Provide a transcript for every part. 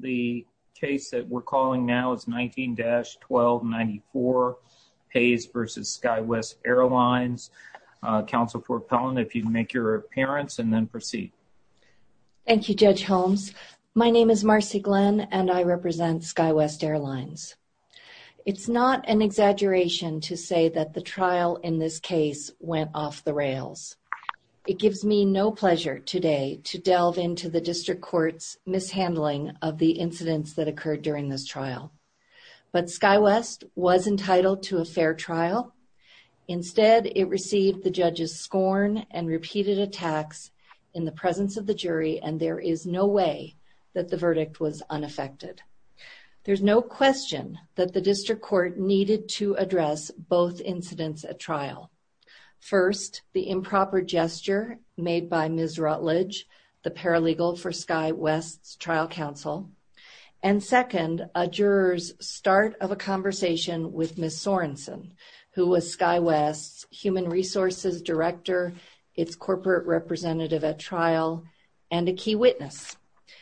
The case that we're calling now is 19-1294 Hayes v. Skywest Airlines. Counsel Port Pellin, if you'd make your appearance and then proceed. Thank you, Judge Holmes. My name is Marcy Glenn and I represent Skywest Airlines. It's not an exaggeration to say that the trial in this case went off the rails. It gives me no pleasure today to delve into the district court's mishandling of the incidents that occurred during this trial. But Skywest was entitled to a fair trial. Instead, it received the judge's scorn and repeated attacks in the presence of the jury, and there is no way that the verdict was unaffected. There's no question that the district court needed to address both incidents at trial. First, the improper gesture made by Ms. Rutledge, the paralegal for Skywest's trial counsel. And second, a juror's start of a conversation with Ms. Sorenson, who was Skywest's human resources director, its corporate representative at trial, and a key witness.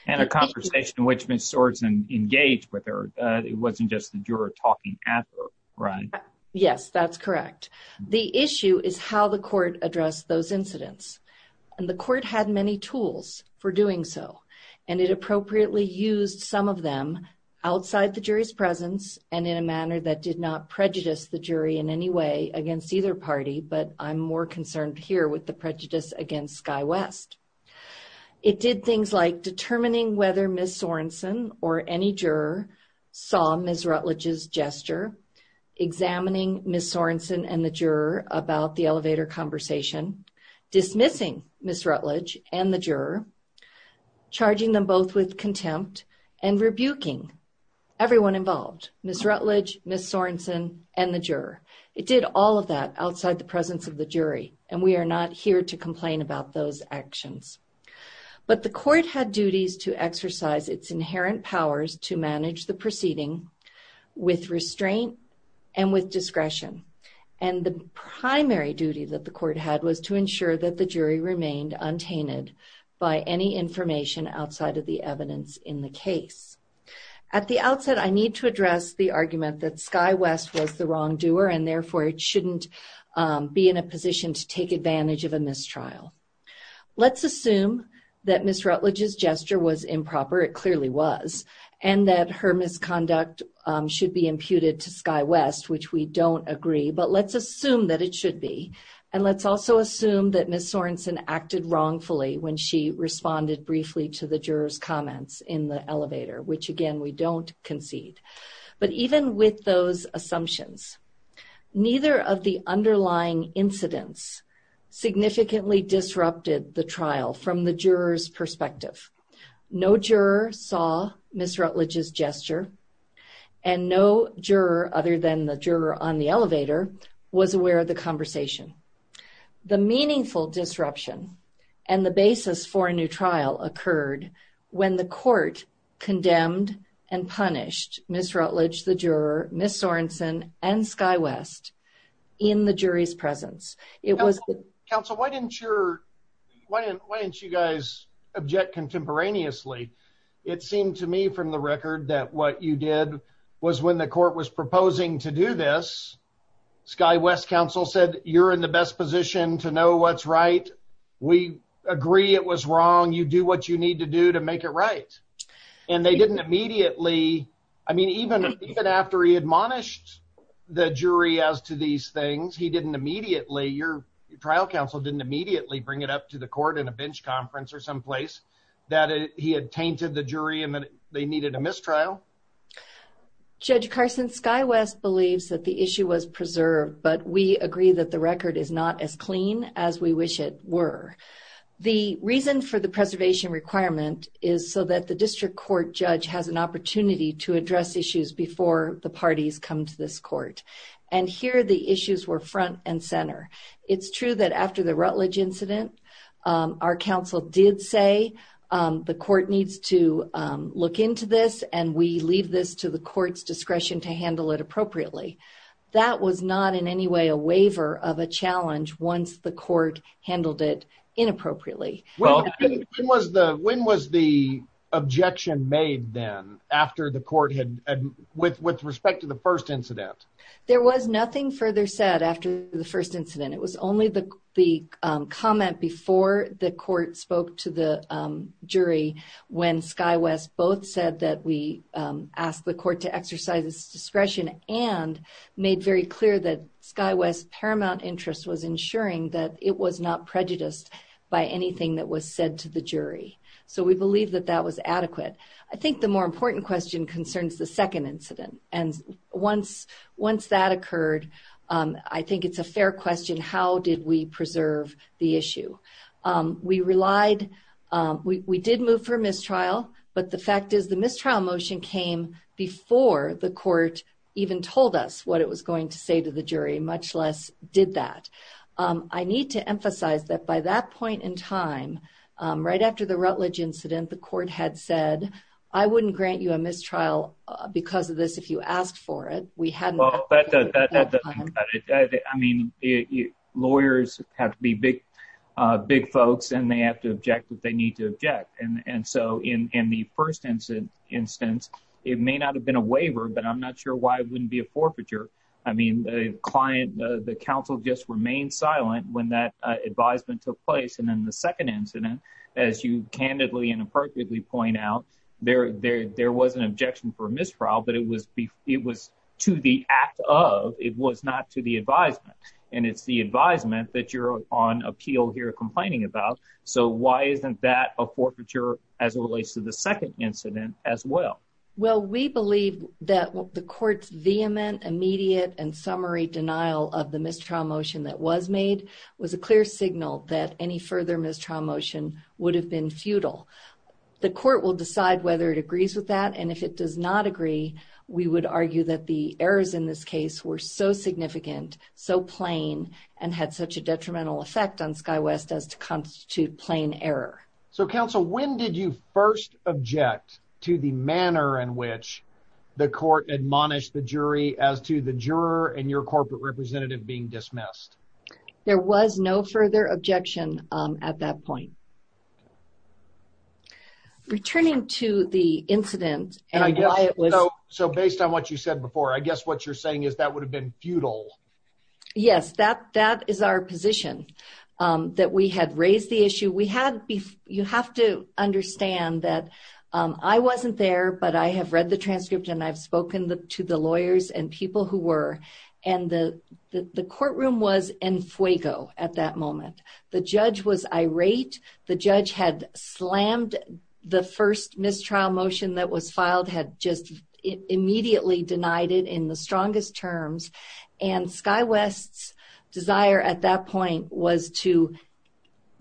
And a conversation in which Ms. Sorenson engaged with her. It wasn't just the juror talking at her, right? Yes, that's correct. The issue is how the court addressed those incidents. And the court had many tools for doing so. And it appropriately used some of them outside the jury's presence and in a manner that did not prejudice the jury in any way against either party. But I'm more concerned here with the prejudice against Skywest. It did things like determining whether Ms. Sorenson or any juror saw Ms. Rutledge's gesture, examining Ms. Sorenson and the juror about the elevator conversation, dismissing Ms. Rutledge and the juror, charging them both with contempt, and rebuking everyone involved. Ms. Rutledge, Ms. Sorenson, and the juror. It did all of that outside the presence of the jury. And we are not here to complain about those actions. But the court had duties to exercise its inherent powers to manage the proceeding with restraint and with discretion. And the primary duty that the court had was to ensure that the jury remained untainted by any information outside of the evidence in the case. At the outset, I need to address the argument that Skywest was the wrongdoer, and therefore it shouldn't be in a position to take advantage of a mistrial. Let's assume that Ms. Rutledge's gesture was improper. It clearly was. And that her misconduct should be imputed to Skywest, which we don't agree. But let's assume that it should be. And let's also assume that Ms. Sorenson acted wrongfully when she responded briefly to the juror's comments in the elevator. Which, again, we don't concede. But even with those assumptions, neither of the underlying incidents significantly disrupted the trial from the juror's perspective. No juror saw Ms. Rutledge's gesture. And no juror, other than the juror on the elevator, was aware of the conversation. The meaningful disruption and the basis for a new trial occurred when the court condemned and punished Ms. Rutledge, the juror, Ms. Sorenson, and Skywest in the jury's presence. Counsel, why didn't you guys object contemporaneously? It seemed to me from the record that what you did was when the court was proposing to do this, Skywest counsel said, you're in the best position to know what's right. We agree it was wrong. You do what you need to do to make it right. And they didn't immediately, I mean, even after he admonished the jury as to these things, he didn't immediately, your trial counsel didn't immediately bring it up to the court in a bench conference or someplace that he had tainted the jury and that they needed a mistrial. Judge Carson, Skywest believes that the issue was preserved, but we agree that the record is not as clean as we wish it were. The reason for the preservation requirement is so that the district court judge has an opportunity to address issues before the parties come to this court. And here the issues were front and center. It's true that after the Rutledge incident, our counsel did say, the court needs to look into this and we leave this to the court's discretion to handle it appropriately. That was not in any way a waiver of a challenge once the court handled it inappropriately. When was the objection made then after the court had, with respect to the first incident? There was nothing further said after the first incident. It was only the comment before the court spoke to the jury when Skywest both said that we asked the court to exercise its discretion and made very clear that Skywest's paramount interest was ensuring that it was not prejudiced by anything that was said to the jury. So we believe that that was adequate. I think the more important question concerns the second incident. Once that occurred, I think it's a fair question, how did we preserve the issue? We relied, we did move for a mistrial, but the fact is the mistrial motion came before the court even told us what it was going to say to the jury, much less did that. I need to emphasize that by that point in time, right after the Rutledge incident, the court had said, I wouldn't grant you a mistrial because of this if you asked for it. We had not. I mean, lawyers have to be big folks and they have to object if they need to object. And so in the first instance, it may not have been a waiver, but I'm not sure why it wouldn't be a forfeiture. I mean, the counsel just remained silent when that advisement took place. And then the second incident, as you candidly and appropriately point out, there was an objection for mistrial, but it was to the act of, it was not to the advisement. And it's the advisement that you're on appeal here complaining about. So why isn't that a forfeiture as it relates to the second incident as well? Well, we believe that the court's vehement, immediate, and summary denial of the mistrial motion that was made was a clear signal that any further mistrial motion would have been futile. The court will decide whether it agrees with that. And if it does not agree, we would argue that the errors in this case were so significant, so plain, and had such a detrimental effect on SkyWest as to constitute plain error. So counsel, when did you first object to the manner in which the court admonished the jury as to the juror and your corporate representative being dismissed? There was no further objection at that point. Returning to the incident and why it was... So based on what you said before, I guess what you're saying is that would have been futile. Yes, that is our position, that we had raised the issue. You have to understand that I wasn't there, but I have read the transcript, and I've spoken to the lawyers and people who were. And the courtroom was en fuego at that moment. The judge was irate. The judge had slammed the first mistrial motion that was filed, had just immediately denied it in the strongest terms. And SkyWest's desire at that point was to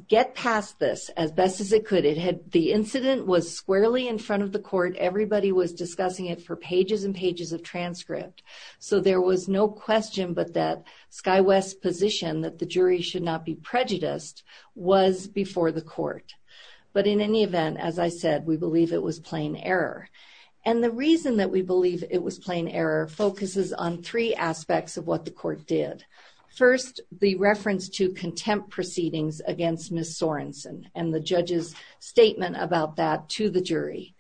get past this as best as it could. The incident was squarely in front of the court. Everybody was discussing it for pages and pages of transcript. So there was no question but that SkyWest's position that the jury should not be prejudiced was before the court. But in any event, as I said, we believe it was plain error. And the reason that we believe it was plain error focuses on three aspects of what the court did. First, the reference to contempt proceedings against Ms. Sorensen and the judge's statement about that to the jury.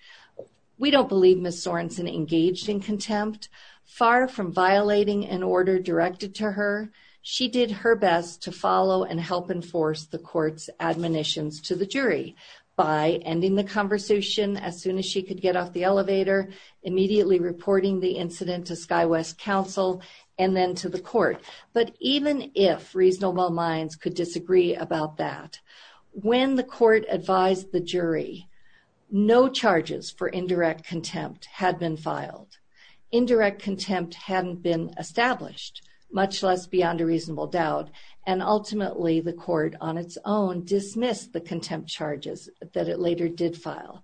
We don't believe Ms. Sorensen engaged in contempt. Far from violating an order directed to her, she did her best to follow and help enforce the court's admonitions to the jury by ending the conversation as soon as she could get off the elevator, immediately reporting the incident to SkyWest counsel, and then to the court. But even if reasonable minds could disagree about that, when the court advised the jury, no charges for indirect contempt had been filed. Indirect contempt hadn't been established, much less beyond a reasonable doubt, and ultimately the court on its own dismissed the contempt charges that it later did file.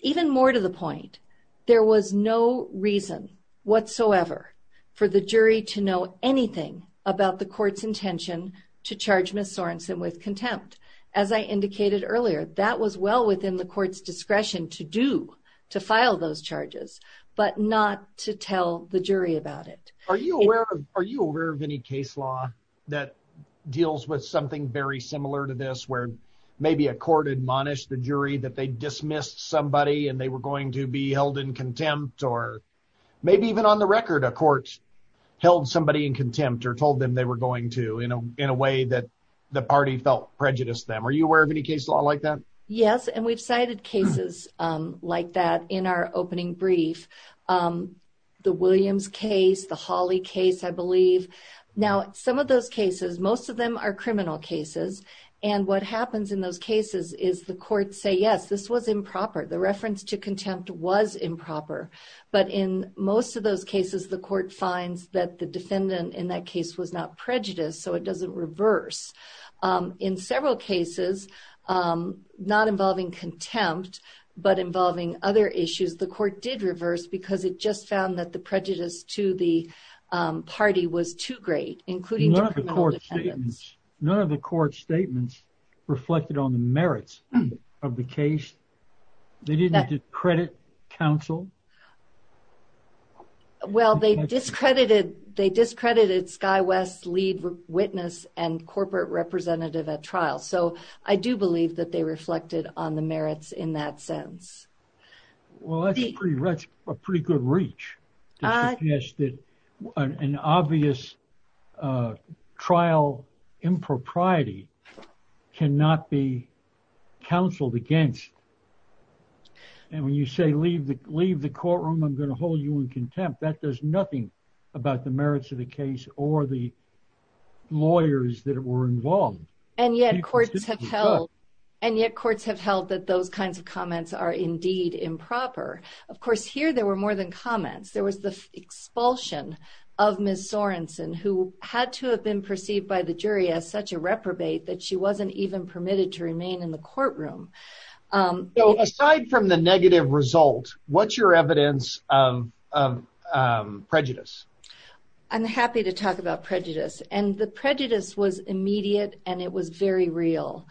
Even more to the point, there was no reason whatsoever for the jury to know anything about the court's intention to charge Ms. Sorensen with contempt. As I indicated earlier, that was well within the court's discretion to do, to file those charges, but not to tell the jury about it. Are you aware of any case law that deals with something very similar to this, where maybe a court admonished the jury that they dismissed somebody and they were going to be held in contempt, or maybe even on the record a court held somebody in contempt or told them they were going to, in a way that the party felt prejudiced them? Are you aware of any case law like that? Yes, and we've cited cases like that in our opening brief. The Williams case, the Hawley case, I believe. Now, some of those cases, most of them are criminal cases, and what happens in those cases is the courts say, yes, this was improper, the reference to contempt was improper. But in most of those cases, the court finds that the defendant in that case was not prejudiced, so it doesn't reverse. In several cases, not involving contempt, but involving other issues, the court did reverse because it just found that the prejudice to the party was too great, including to criminal defendants. None of the court statements reflected on the merits of the case. They didn't discredit counsel? Well, they discredited Sky West's lead witness and corporate representative at trial, so I do believe that they reflected on the merits in that sense. Well, that's a pretty good reach to suggest that an obvious trial impropriety cannot be counseled against. And when you say, leave the courtroom, I'm going to hold you in contempt, that does nothing about the merits of the case or the lawyers that were involved. And yet courts have held that those kinds of comments are indeed improper. Of course, here there were more than comments. There was the expulsion of Ms. Sorenson, who had to have been perceived by the jury as such a reprobate that she wasn't even permitted to remain in the courtroom. Aside from the negative result, what's your evidence of prejudice? I'm happy to talk about prejudice. And the prejudice was immediate and it was very real.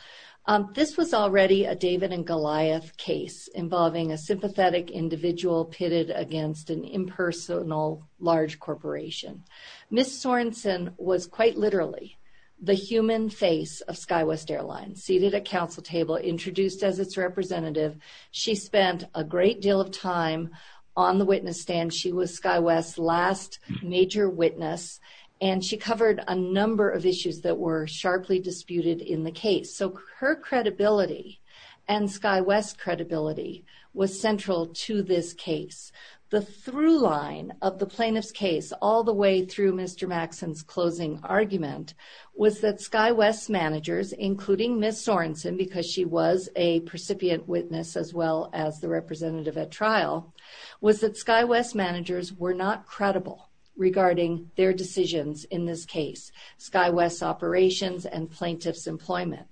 This was already a David and Goliath case, involving a sympathetic individual pitted against an impersonal large corporation. Ms. Sorenson was quite literally the human face of SkyWest Airlines, seated at counsel table, introduced as its representative. She spent a great deal of time on the witness stand. She was SkyWest's last major witness, and she covered a number of issues that were sharply disputed in the case. So her credibility and SkyWest's credibility was central to this case. The through line of the plaintiff's case, all the way through Mr. Maxson's closing argument, was that SkyWest's managers, including Ms. Sorenson, because she was a recipient witness as well as the representative at trial, was that SkyWest's managers were not credible regarding their decisions in this case, SkyWest's operations and plaintiff's employment.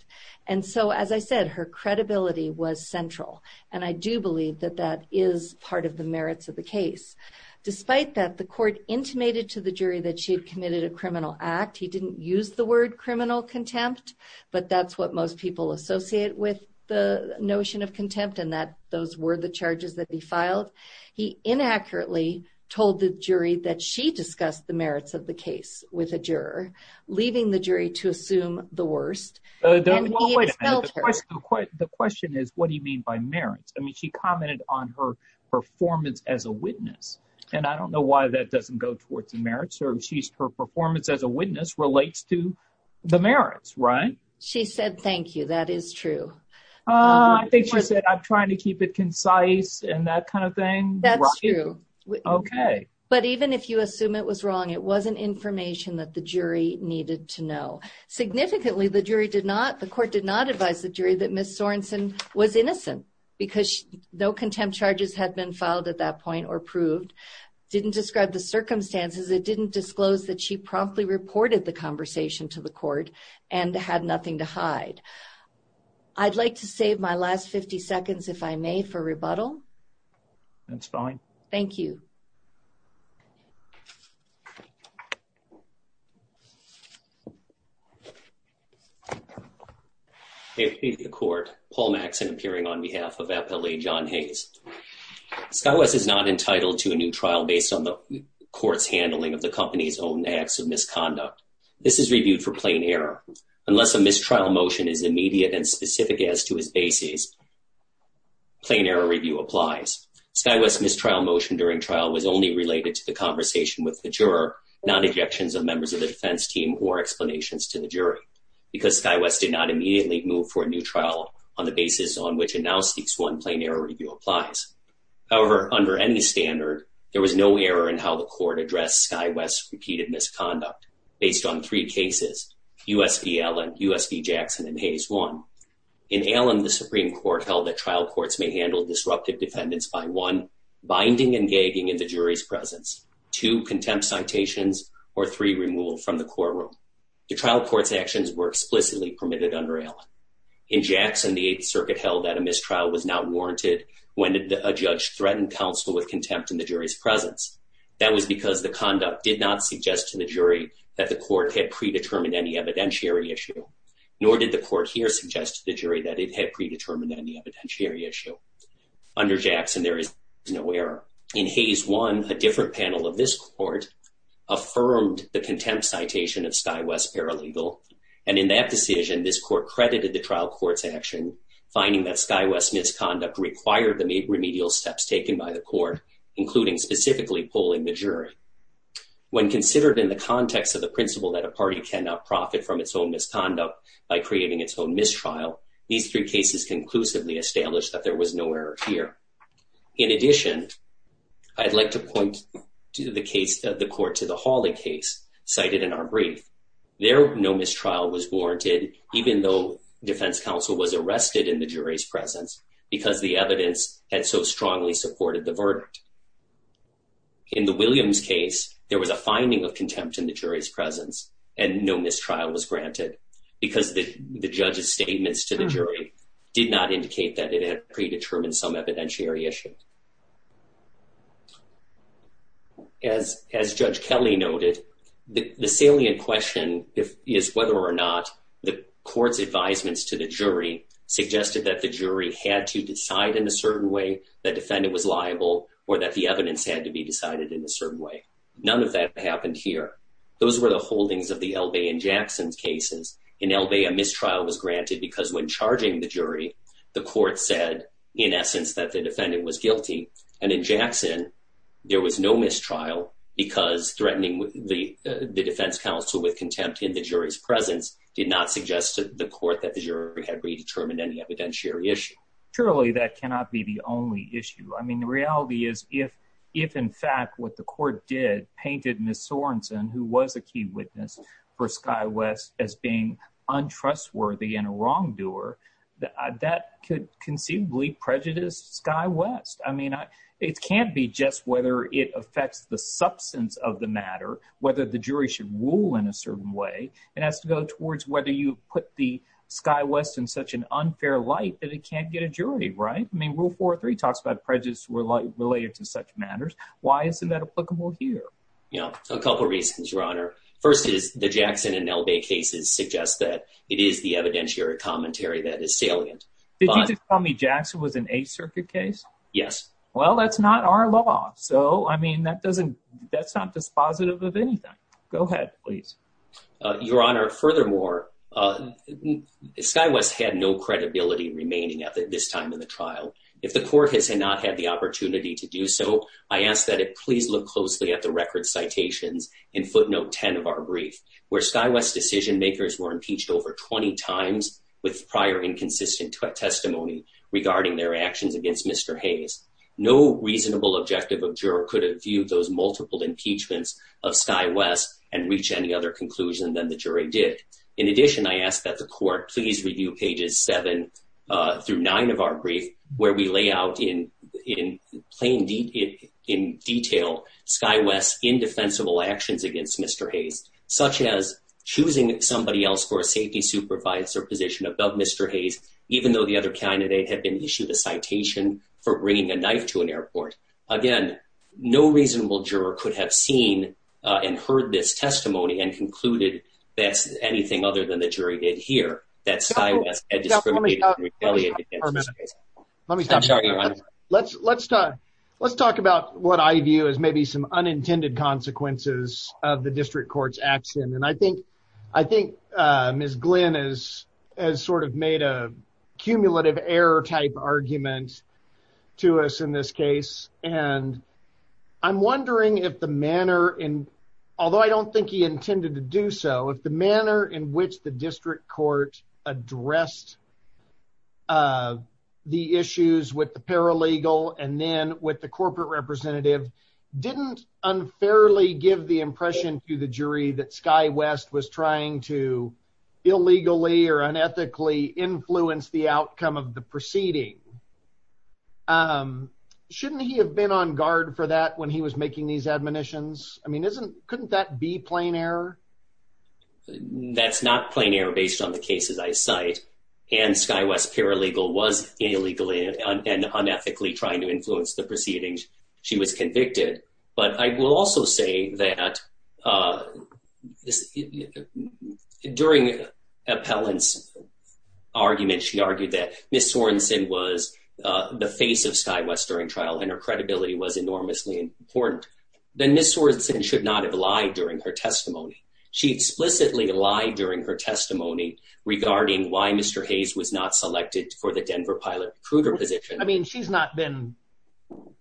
And so, as I said, her credibility was central. And I do believe that that is part of the merits of the case. Despite that, the court intimated to the jury that she had committed a criminal act. He didn't use the word criminal contempt, but that's what most people associate with the notion of contempt, and that those were the charges that he filed. He inaccurately told the jury that she discussed the merits of the case with a juror, leaving the jury to assume the worst. The question is, what do you mean by merits? I mean, she commented on her performance as a witness, and I don't know why that doesn't go towards the merits. Her performance as a witness relates to the merits, right? She said, thank you. That is true. I think she said, I'm trying to keep it concise and that kind of thing. That's true. Okay. But even if you assume it was wrong, it wasn't information that the jury needed to know. Significantly, the court did not advise the jury that Ms. Sorensen was innocent because no contempt charges had been filed at that point or proved. It didn't describe the circumstances. It didn't disclose that she promptly reported the conversation to the court and had nothing to hide. I'd like to save my last 50 seconds, if I may, for rebuttal. That's fine. Thank you. May it please the court. Paul Maxson appearing on behalf of FLA John Hayes. SkyWest is not entitled to a new trial based on the court's handling of the company's own acts of misconduct. This is reviewed for plain error. Unless a mistrial motion is immediate and specific as to its basis, plain error review applies. SkyWest's mistrial motion during trial was only related to the conversation with the juror, not objections of members of the defense team or explanations to the jury because SkyWest did not immediately move for a new trial on the basis on which it now speaks one plain error review applies. However, under any standard, there was no error in how the court addressed SkyWest's repeated misconduct based on three cases, U.S. v. Allen, U.S. v. Jackson, and Hayes 1. In Allen, the Supreme Court held that trial courts may handle disruptive defendants by one, binding and gagging in the jury's presence. Two, contempt citations, or three, removal from the courtroom. The trial court's actions were explicitly permitted under Allen. In Jackson, the Eighth Circuit held that a mistrial was not warranted when a judge threatened counsel with contempt in the jury's presence. That was because the conduct did not suggest to the jury that the court had predetermined any evidentiary issue, nor did the court here suggest to the jury that it had predetermined any evidentiary issue. Under Jackson, there is no error. In Hayes 1, a different panel of this court affirmed the contempt citation of SkyWest Paralegal, and in that decision, this court credited the trial court's action finding that SkyWest's misconduct required the remedial steps taken by the court, including specifically polling the jury. When considered in the context of the principle that a party cannot profit from its own misconduct by creating its own mistrial, these three cases conclusively established that there was no error here. In addition, I'd like to point the court to the Hawley case cited in our brief. There, no mistrial was warranted even though defense counsel was arrested in the jury's presence because the evidence had so strongly supported the verdict. In the Williams case, there was a finding of contempt in the jury's presence, and no mistrial was granted because the judge's statements to the jury did not indicate that it had predetermined some evidentiary issue. As Judge Kelly noted, the salient question is whether or not the court's advisements to the jury suggested that the jury had to decide in a certain way that the defendant was liable or that the evidence had to be decided in a certain way. None of that happened here. Those were the holdings of the Elbay and Jackson cases. In Elbay, a mistrial was granted because when charging the jury, the court said, in essence, that the defendant was guilty. And in Jackson, there was no mistrial because threatening the defense counsel with contempt in the jury's presence did not suggest to the court that the jury had predetermined any evidentiary issue. Surely that cannot be the only issue. I mean, the reality is if, in fact, what the court did painted Ms. Sorensen, who was a key witness for SkyWest, as being untrustworthy and a wrongdoer, that could conceivably prejudice SkyWest. I mean, it can't be just whether it affects the substance of the matter, whether the jury should rule in a certain way. It has to go towards whether you put SkyWest in such an unfair light that it can't get a jury, right? I mean, Rule 4.3 talks about prejudice related to such matters. Why isn't that applicable here? A couple reasons, Your Honor. First is the Jackson and Neldae cases suggest that it is the evidentiary commentary that is salient. Did you just tell me Jackson was an Eighth Circuit case? Yes. Well, that's not our law. So, I mean, that's not dispositive of anything. Go ahead, please. Your Honor, furthermore, SkyWest had no credibility remaining at this time in the trial. If the court has not had the opportunity to do so, I ask that it please look closely at the record citations in footnote 10 of our brief, where SkyWest decision-makers were impeached over 20 times with prior inconsistent testimony regarding their actions against Mr. Hayes. No reasonable objective of juror could have viewed those multiple impeachments of SkyWest and reach any other conclusion than the jury did. In addition, I ask that the court please review pages 7 through 9 of our brief where we lay out in plain detail SkyWest's indefensible actions against Mr. Hayes, such as choosing somebody else for a safety supervisor position above Mr. Hayes, even though the other candidate had been issued a citation for bringing a knife to an airport. Again, no reasonable juror could have seen and heard this testimony and concluded that's anything other than the jury did here, that SkyWest had discriminated and retaliated against Mr. Hayes. Let me stop there. Let's talk about what I view as maybe some unintended consequences of the district court's action. And I think Ms. Glynn has sort of made a cumulative error-type argument to us in this case. And I'm wondering if the manner, although I don't think he intended to do so, if the manner in which the district court addressed the issues with the paralegal and then with the corporate representative didn't unfairly give the impression to the jury that SkyWest was trying to illegally or unethically influence the outcome of the proceeding, shouldn't he have been on guard for that when he was making these admonitions? I mean, couldn't that be plain error? That's not plain error based on the cases I cite. And SkyWest's paralegal was illegally and unethically trying to influence the proceedings she was convicted. But I will also say that during Appellant's argument, she argued that Ms. Sorensen was the face of SkyWest during trial and her credibility was enormously important. Then Ms. Sorensen should not have lied during her testimony. She explicitly lied during her testimony regarding why Mr. Hayes was not selected for the Denver pilot recruiter position. I mean, she's not been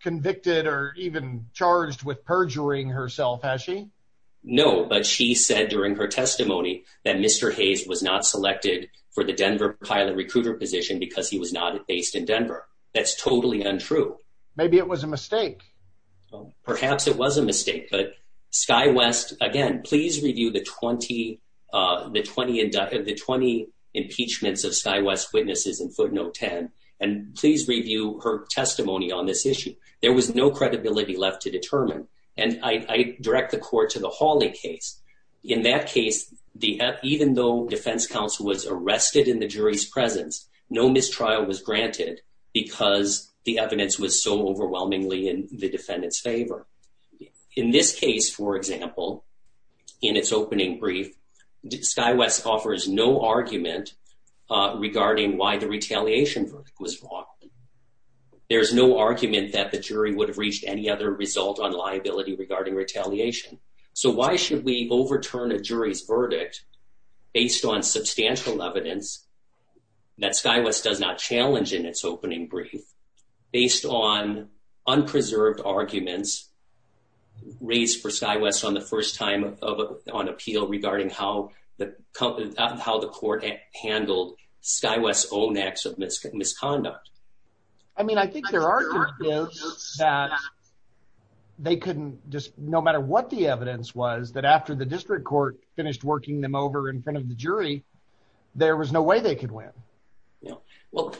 convicted or even charged with perjuring herself, has she? No, but she said during her testimony that Mr. Hayes was not selected for the Denver pilot recruiter position because he was not based in Denver. That's totally untrue. Maybe it was a mistake. Perhaps it was a mistake, but SkyWest... Again, please review the 20 impeachments of SkyWest's witnesses in footnote 10 and please review her testimony on this issue. There was no credibility left to determine. And I direct the court to the Hawley case. In that case, even though defense counsel was arrested in the jury's presence, no mistrial was granted because the evidence was so overwhelmingly in the defendant's favor. In this case, for example, in its opening brief, SkyWest offers no argument regarding why the retaliation verdict was wrong. There's no argument that the jury would have reached any other result on liability regarding retaliation. So why should we overturn a jury's verdict based on substantial evidence that SkyWest does not challenge in its opening brief, based on unpreserved arguments raised for SkyWest on the first time on appeal regarding how the court handled SkyWest's own acts of misconduct? I mean, I think there are... They couldn't just... No matter what the evidence was, that after the district court finished working them over in front of the jury, there was no way they could win. Well,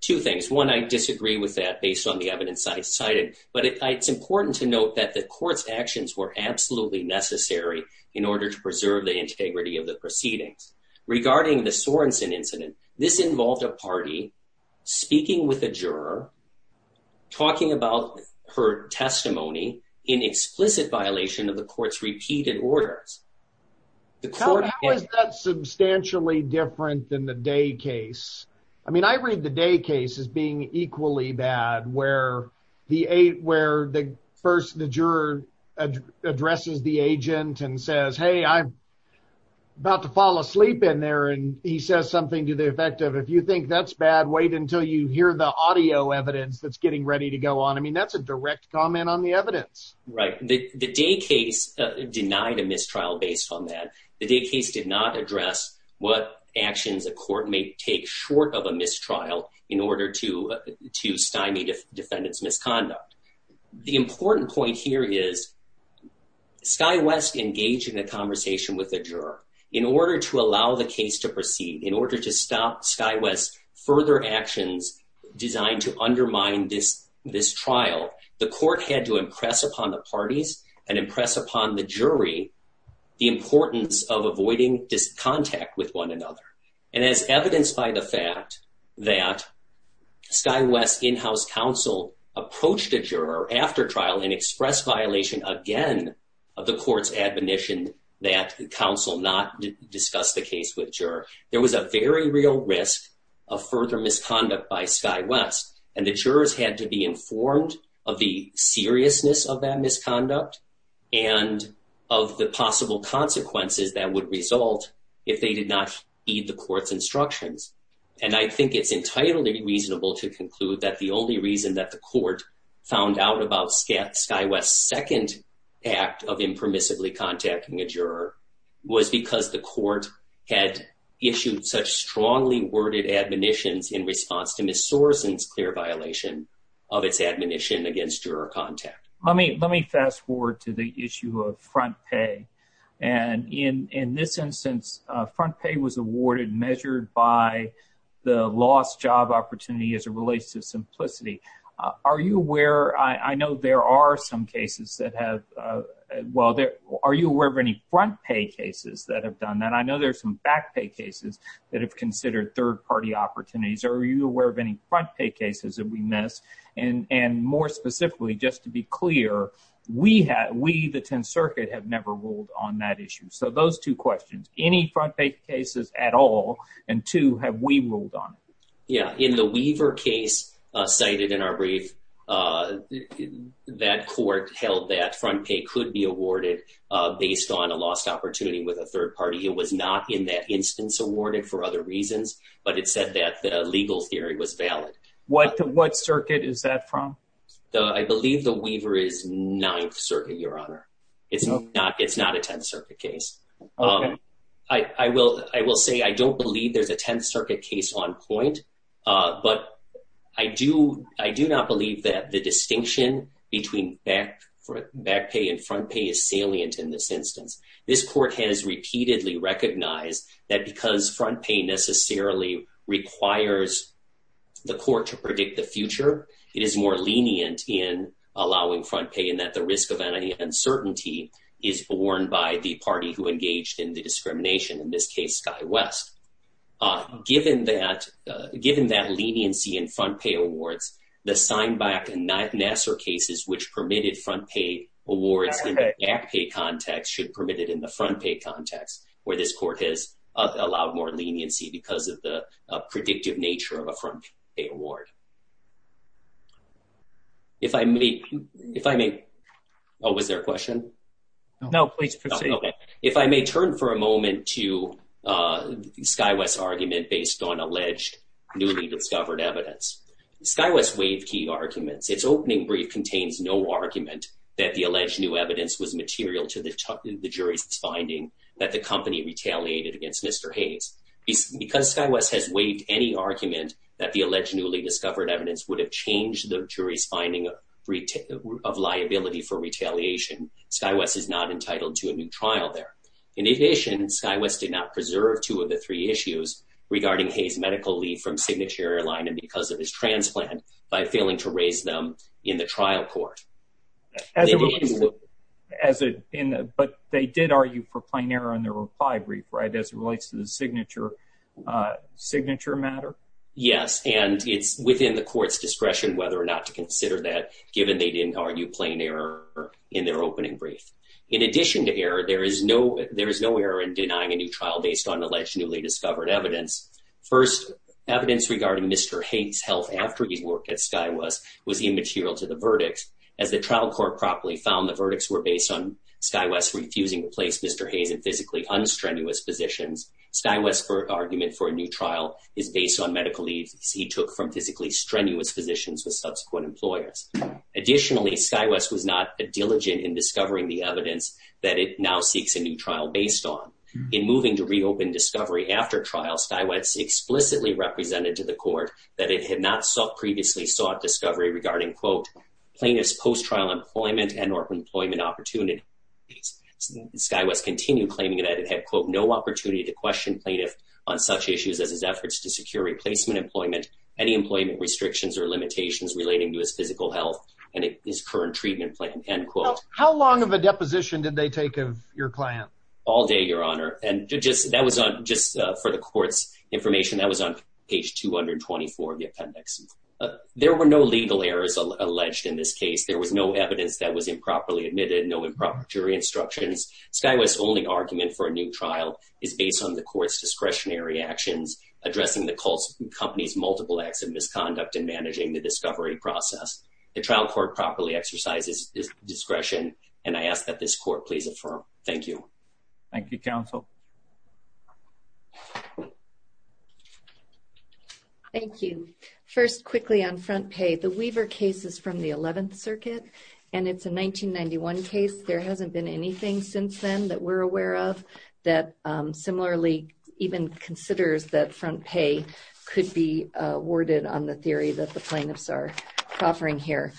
two things. One, I disagree with that based on the evidence I cited, but it's important to note that the court's actions were absolutely necessary in order to preserve the integrity of the proceedings. Regarding the Sorensen incident, this involved a party speaking with a juror, talking about her testimony in explicit violation of the court's repeated orders. How is that substantially different than the Day case? I mean, I read the Day case as being equally bad, where the first, the juror addresses the agent and says, hey, I'm about to fall asleep in there, and he says something to the effect of, if you think that's bad, wait until you hear the audio evidence that's getting ready to go on. I mean, that's a direct comment on the evidence. The Day case denied a mistrial based on that. The Day case did not address what actions a court may take short of a mistrial in order to stymie the defendant's misconduct. The important point here is Sky West engaged in a conversation with the juror. In order to allow the case to proceed, in order to stop Sky West's further actions designed to undermine this trial, the court had to impress upon the parties and impress upon the jury the importance of avoiding contact with one another. And as evidenced by the fact that Sky West's in-house counsel approached a juror after trial and expressed violation again of the court's admonition that counsel not discuss the case with juror, there was a very real risk of further misconduct by Sky West. And the jurors had to be informed of the seriousness of that misconduct and of the possible consequences that would result if they did not heed the court's instructions. And I think it's entirely reasonable to conclude that the only reason that the court found out about Sky West's second act of impermissibly contacting a juror was because the court had issued such strongly worded admonitions in response to Ms. Soroson's clear violation of its admonition against juror contact. Let me fast forward to the issue of front pay. And in this instance, front pay was awarded measured by the lost job opportunity as it relates to simplicity. Are you aware, I know there are some cases that have, well, are you aware of any front pay cases that have done that? I know there's some back pay cases that have considered third party opportunities. Are you aware of any front pay cases that we missed? And more specifically, just to be clear, we, the 10th Circuit, have never ruled on that issue. So those two questions, any front pay cases at all, and two, have we ruled on it? Yeah, in the Weaver case cited in our brief, that court held that front pay could be awarded based on a lost opportunity with a third party. It was not in that instance awarded for other reasons, but it said that the legal theory was valid. What circuit is that from? I believe the Weaver is 9th Circuit, Your Honor. It's not a 10th Circuit case. I will say I don't believe there's a 10th Circuit case on point, but I do not believe that the distinction between back pay and front pay is salient in this instance. This court has repeatedly recognized that because front pay necessarily requires the court to predict the future, it is more lenient in allowing front pay and that the risk of uncertainty is borne by the party who engaged in the discrimination, in this case, Sky West. Given that leniency in front pay awards, the Seinbach and Nasser cases, which permitted front pay awards in the back pay context, should permit it in the front pay context where this court has allowed more leniency because of the predictive nature of a front pay award. If I may... Oh, was there a question? No, please proceed. If I may turn for a moment to Sky West's argument based on alleged newly discovered evidence. Sky West waived key arguments. Its opening brief contains no argument that the alleged new evidence was material to the jury's finding that the company retaliated against Mr. Hayes. Because Sky West has waived any argument that the alleged newly discovered evidence would have changed the jury's finding of liability for retaliation, Sky West is not entitled to a new trial there. In addition, Sky West did not preserve two of the three issues regarding Hayes' medical leave from Signature Airline and because of his transplant by failing to raise them in the trial court. But they did argue for plain error in their reply brief, right, as it relates to the signature matter? Yes, and it's within the court's discretion whether or not to consider that given they didn't argue plain error in their opening brief. In addition to error, there is no error in denying a new trial based on alleged newly discovered evidence. First, evidence regarding Mr. Hayes' health after he worked at Sky West was immaterial to the verdict. As the trial court properly found the verdicts were based on Sky West refusing to place Mr. Hayes in physically unstrenuous positions, Sky West's argument for a new trial is based on medical leaves he took from physically strenuous physicians with subsequent employers. Additionally, Sky West was not diligent in discovering the evidence that it now seeks a new trial based on. In moving to reopen discovery after trial, Sky West explicitly represented to the court that it had not previously sought discovery regarding plaintiff's post-trial employment and or employment opportunities. Sky West continued claiming that it had no opportunity to question plaintiff on such issues as his efforts to secure replacement employment, any employment restrictions or limitations relating to his physical health How long of a deposition did they take of your client? All day, Your Honor. Just for the court's information, that was on page 224 of the appendix. There were no legal errors alleged in this case. There was no evidence that was improperly admitted, no improper jury instructions. Sky West's only argument for a new trial is based on the court's discretionary actions addressing the company's multiple acts of misconduct in managing the discovery process. The trial court properly exercises discretion and I ask that this court please affirm. Thank you. Thank you, Counsel. Thank you. First, quickly on front pay. The Weaver case is from the 11th Circuit and it's a 1991 case. There hasn't been anything since then that we're aware of that similarly even considers that front pay could be worded on the theory that the plaintiffs are offering here.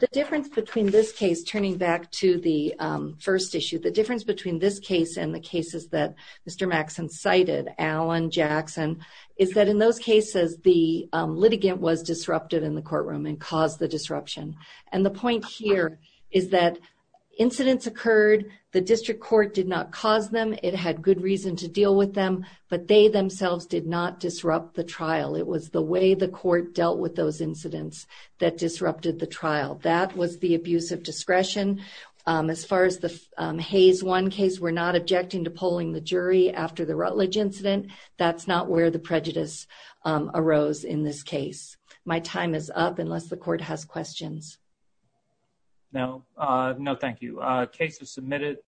The difference between this case is turning back to the first issue. The difference between this case and the cases that Mr. Maxson cited, Allen, Jackson, is that in those cases the litigant was disrupted in the courtroom and caused the disruption. The point here is that incidents occurred. The district court did not cause them. It had good reason to deal with them It was the way the court dealt with those incidents that disrupted the trial. That was the abuse of discretion. As far as the Hayes 1 case, we're not objecting to polling the jury after the Rutledge incident. That's not where the prejudice arose in this case. My time is up unless the court has questions. No, thank you.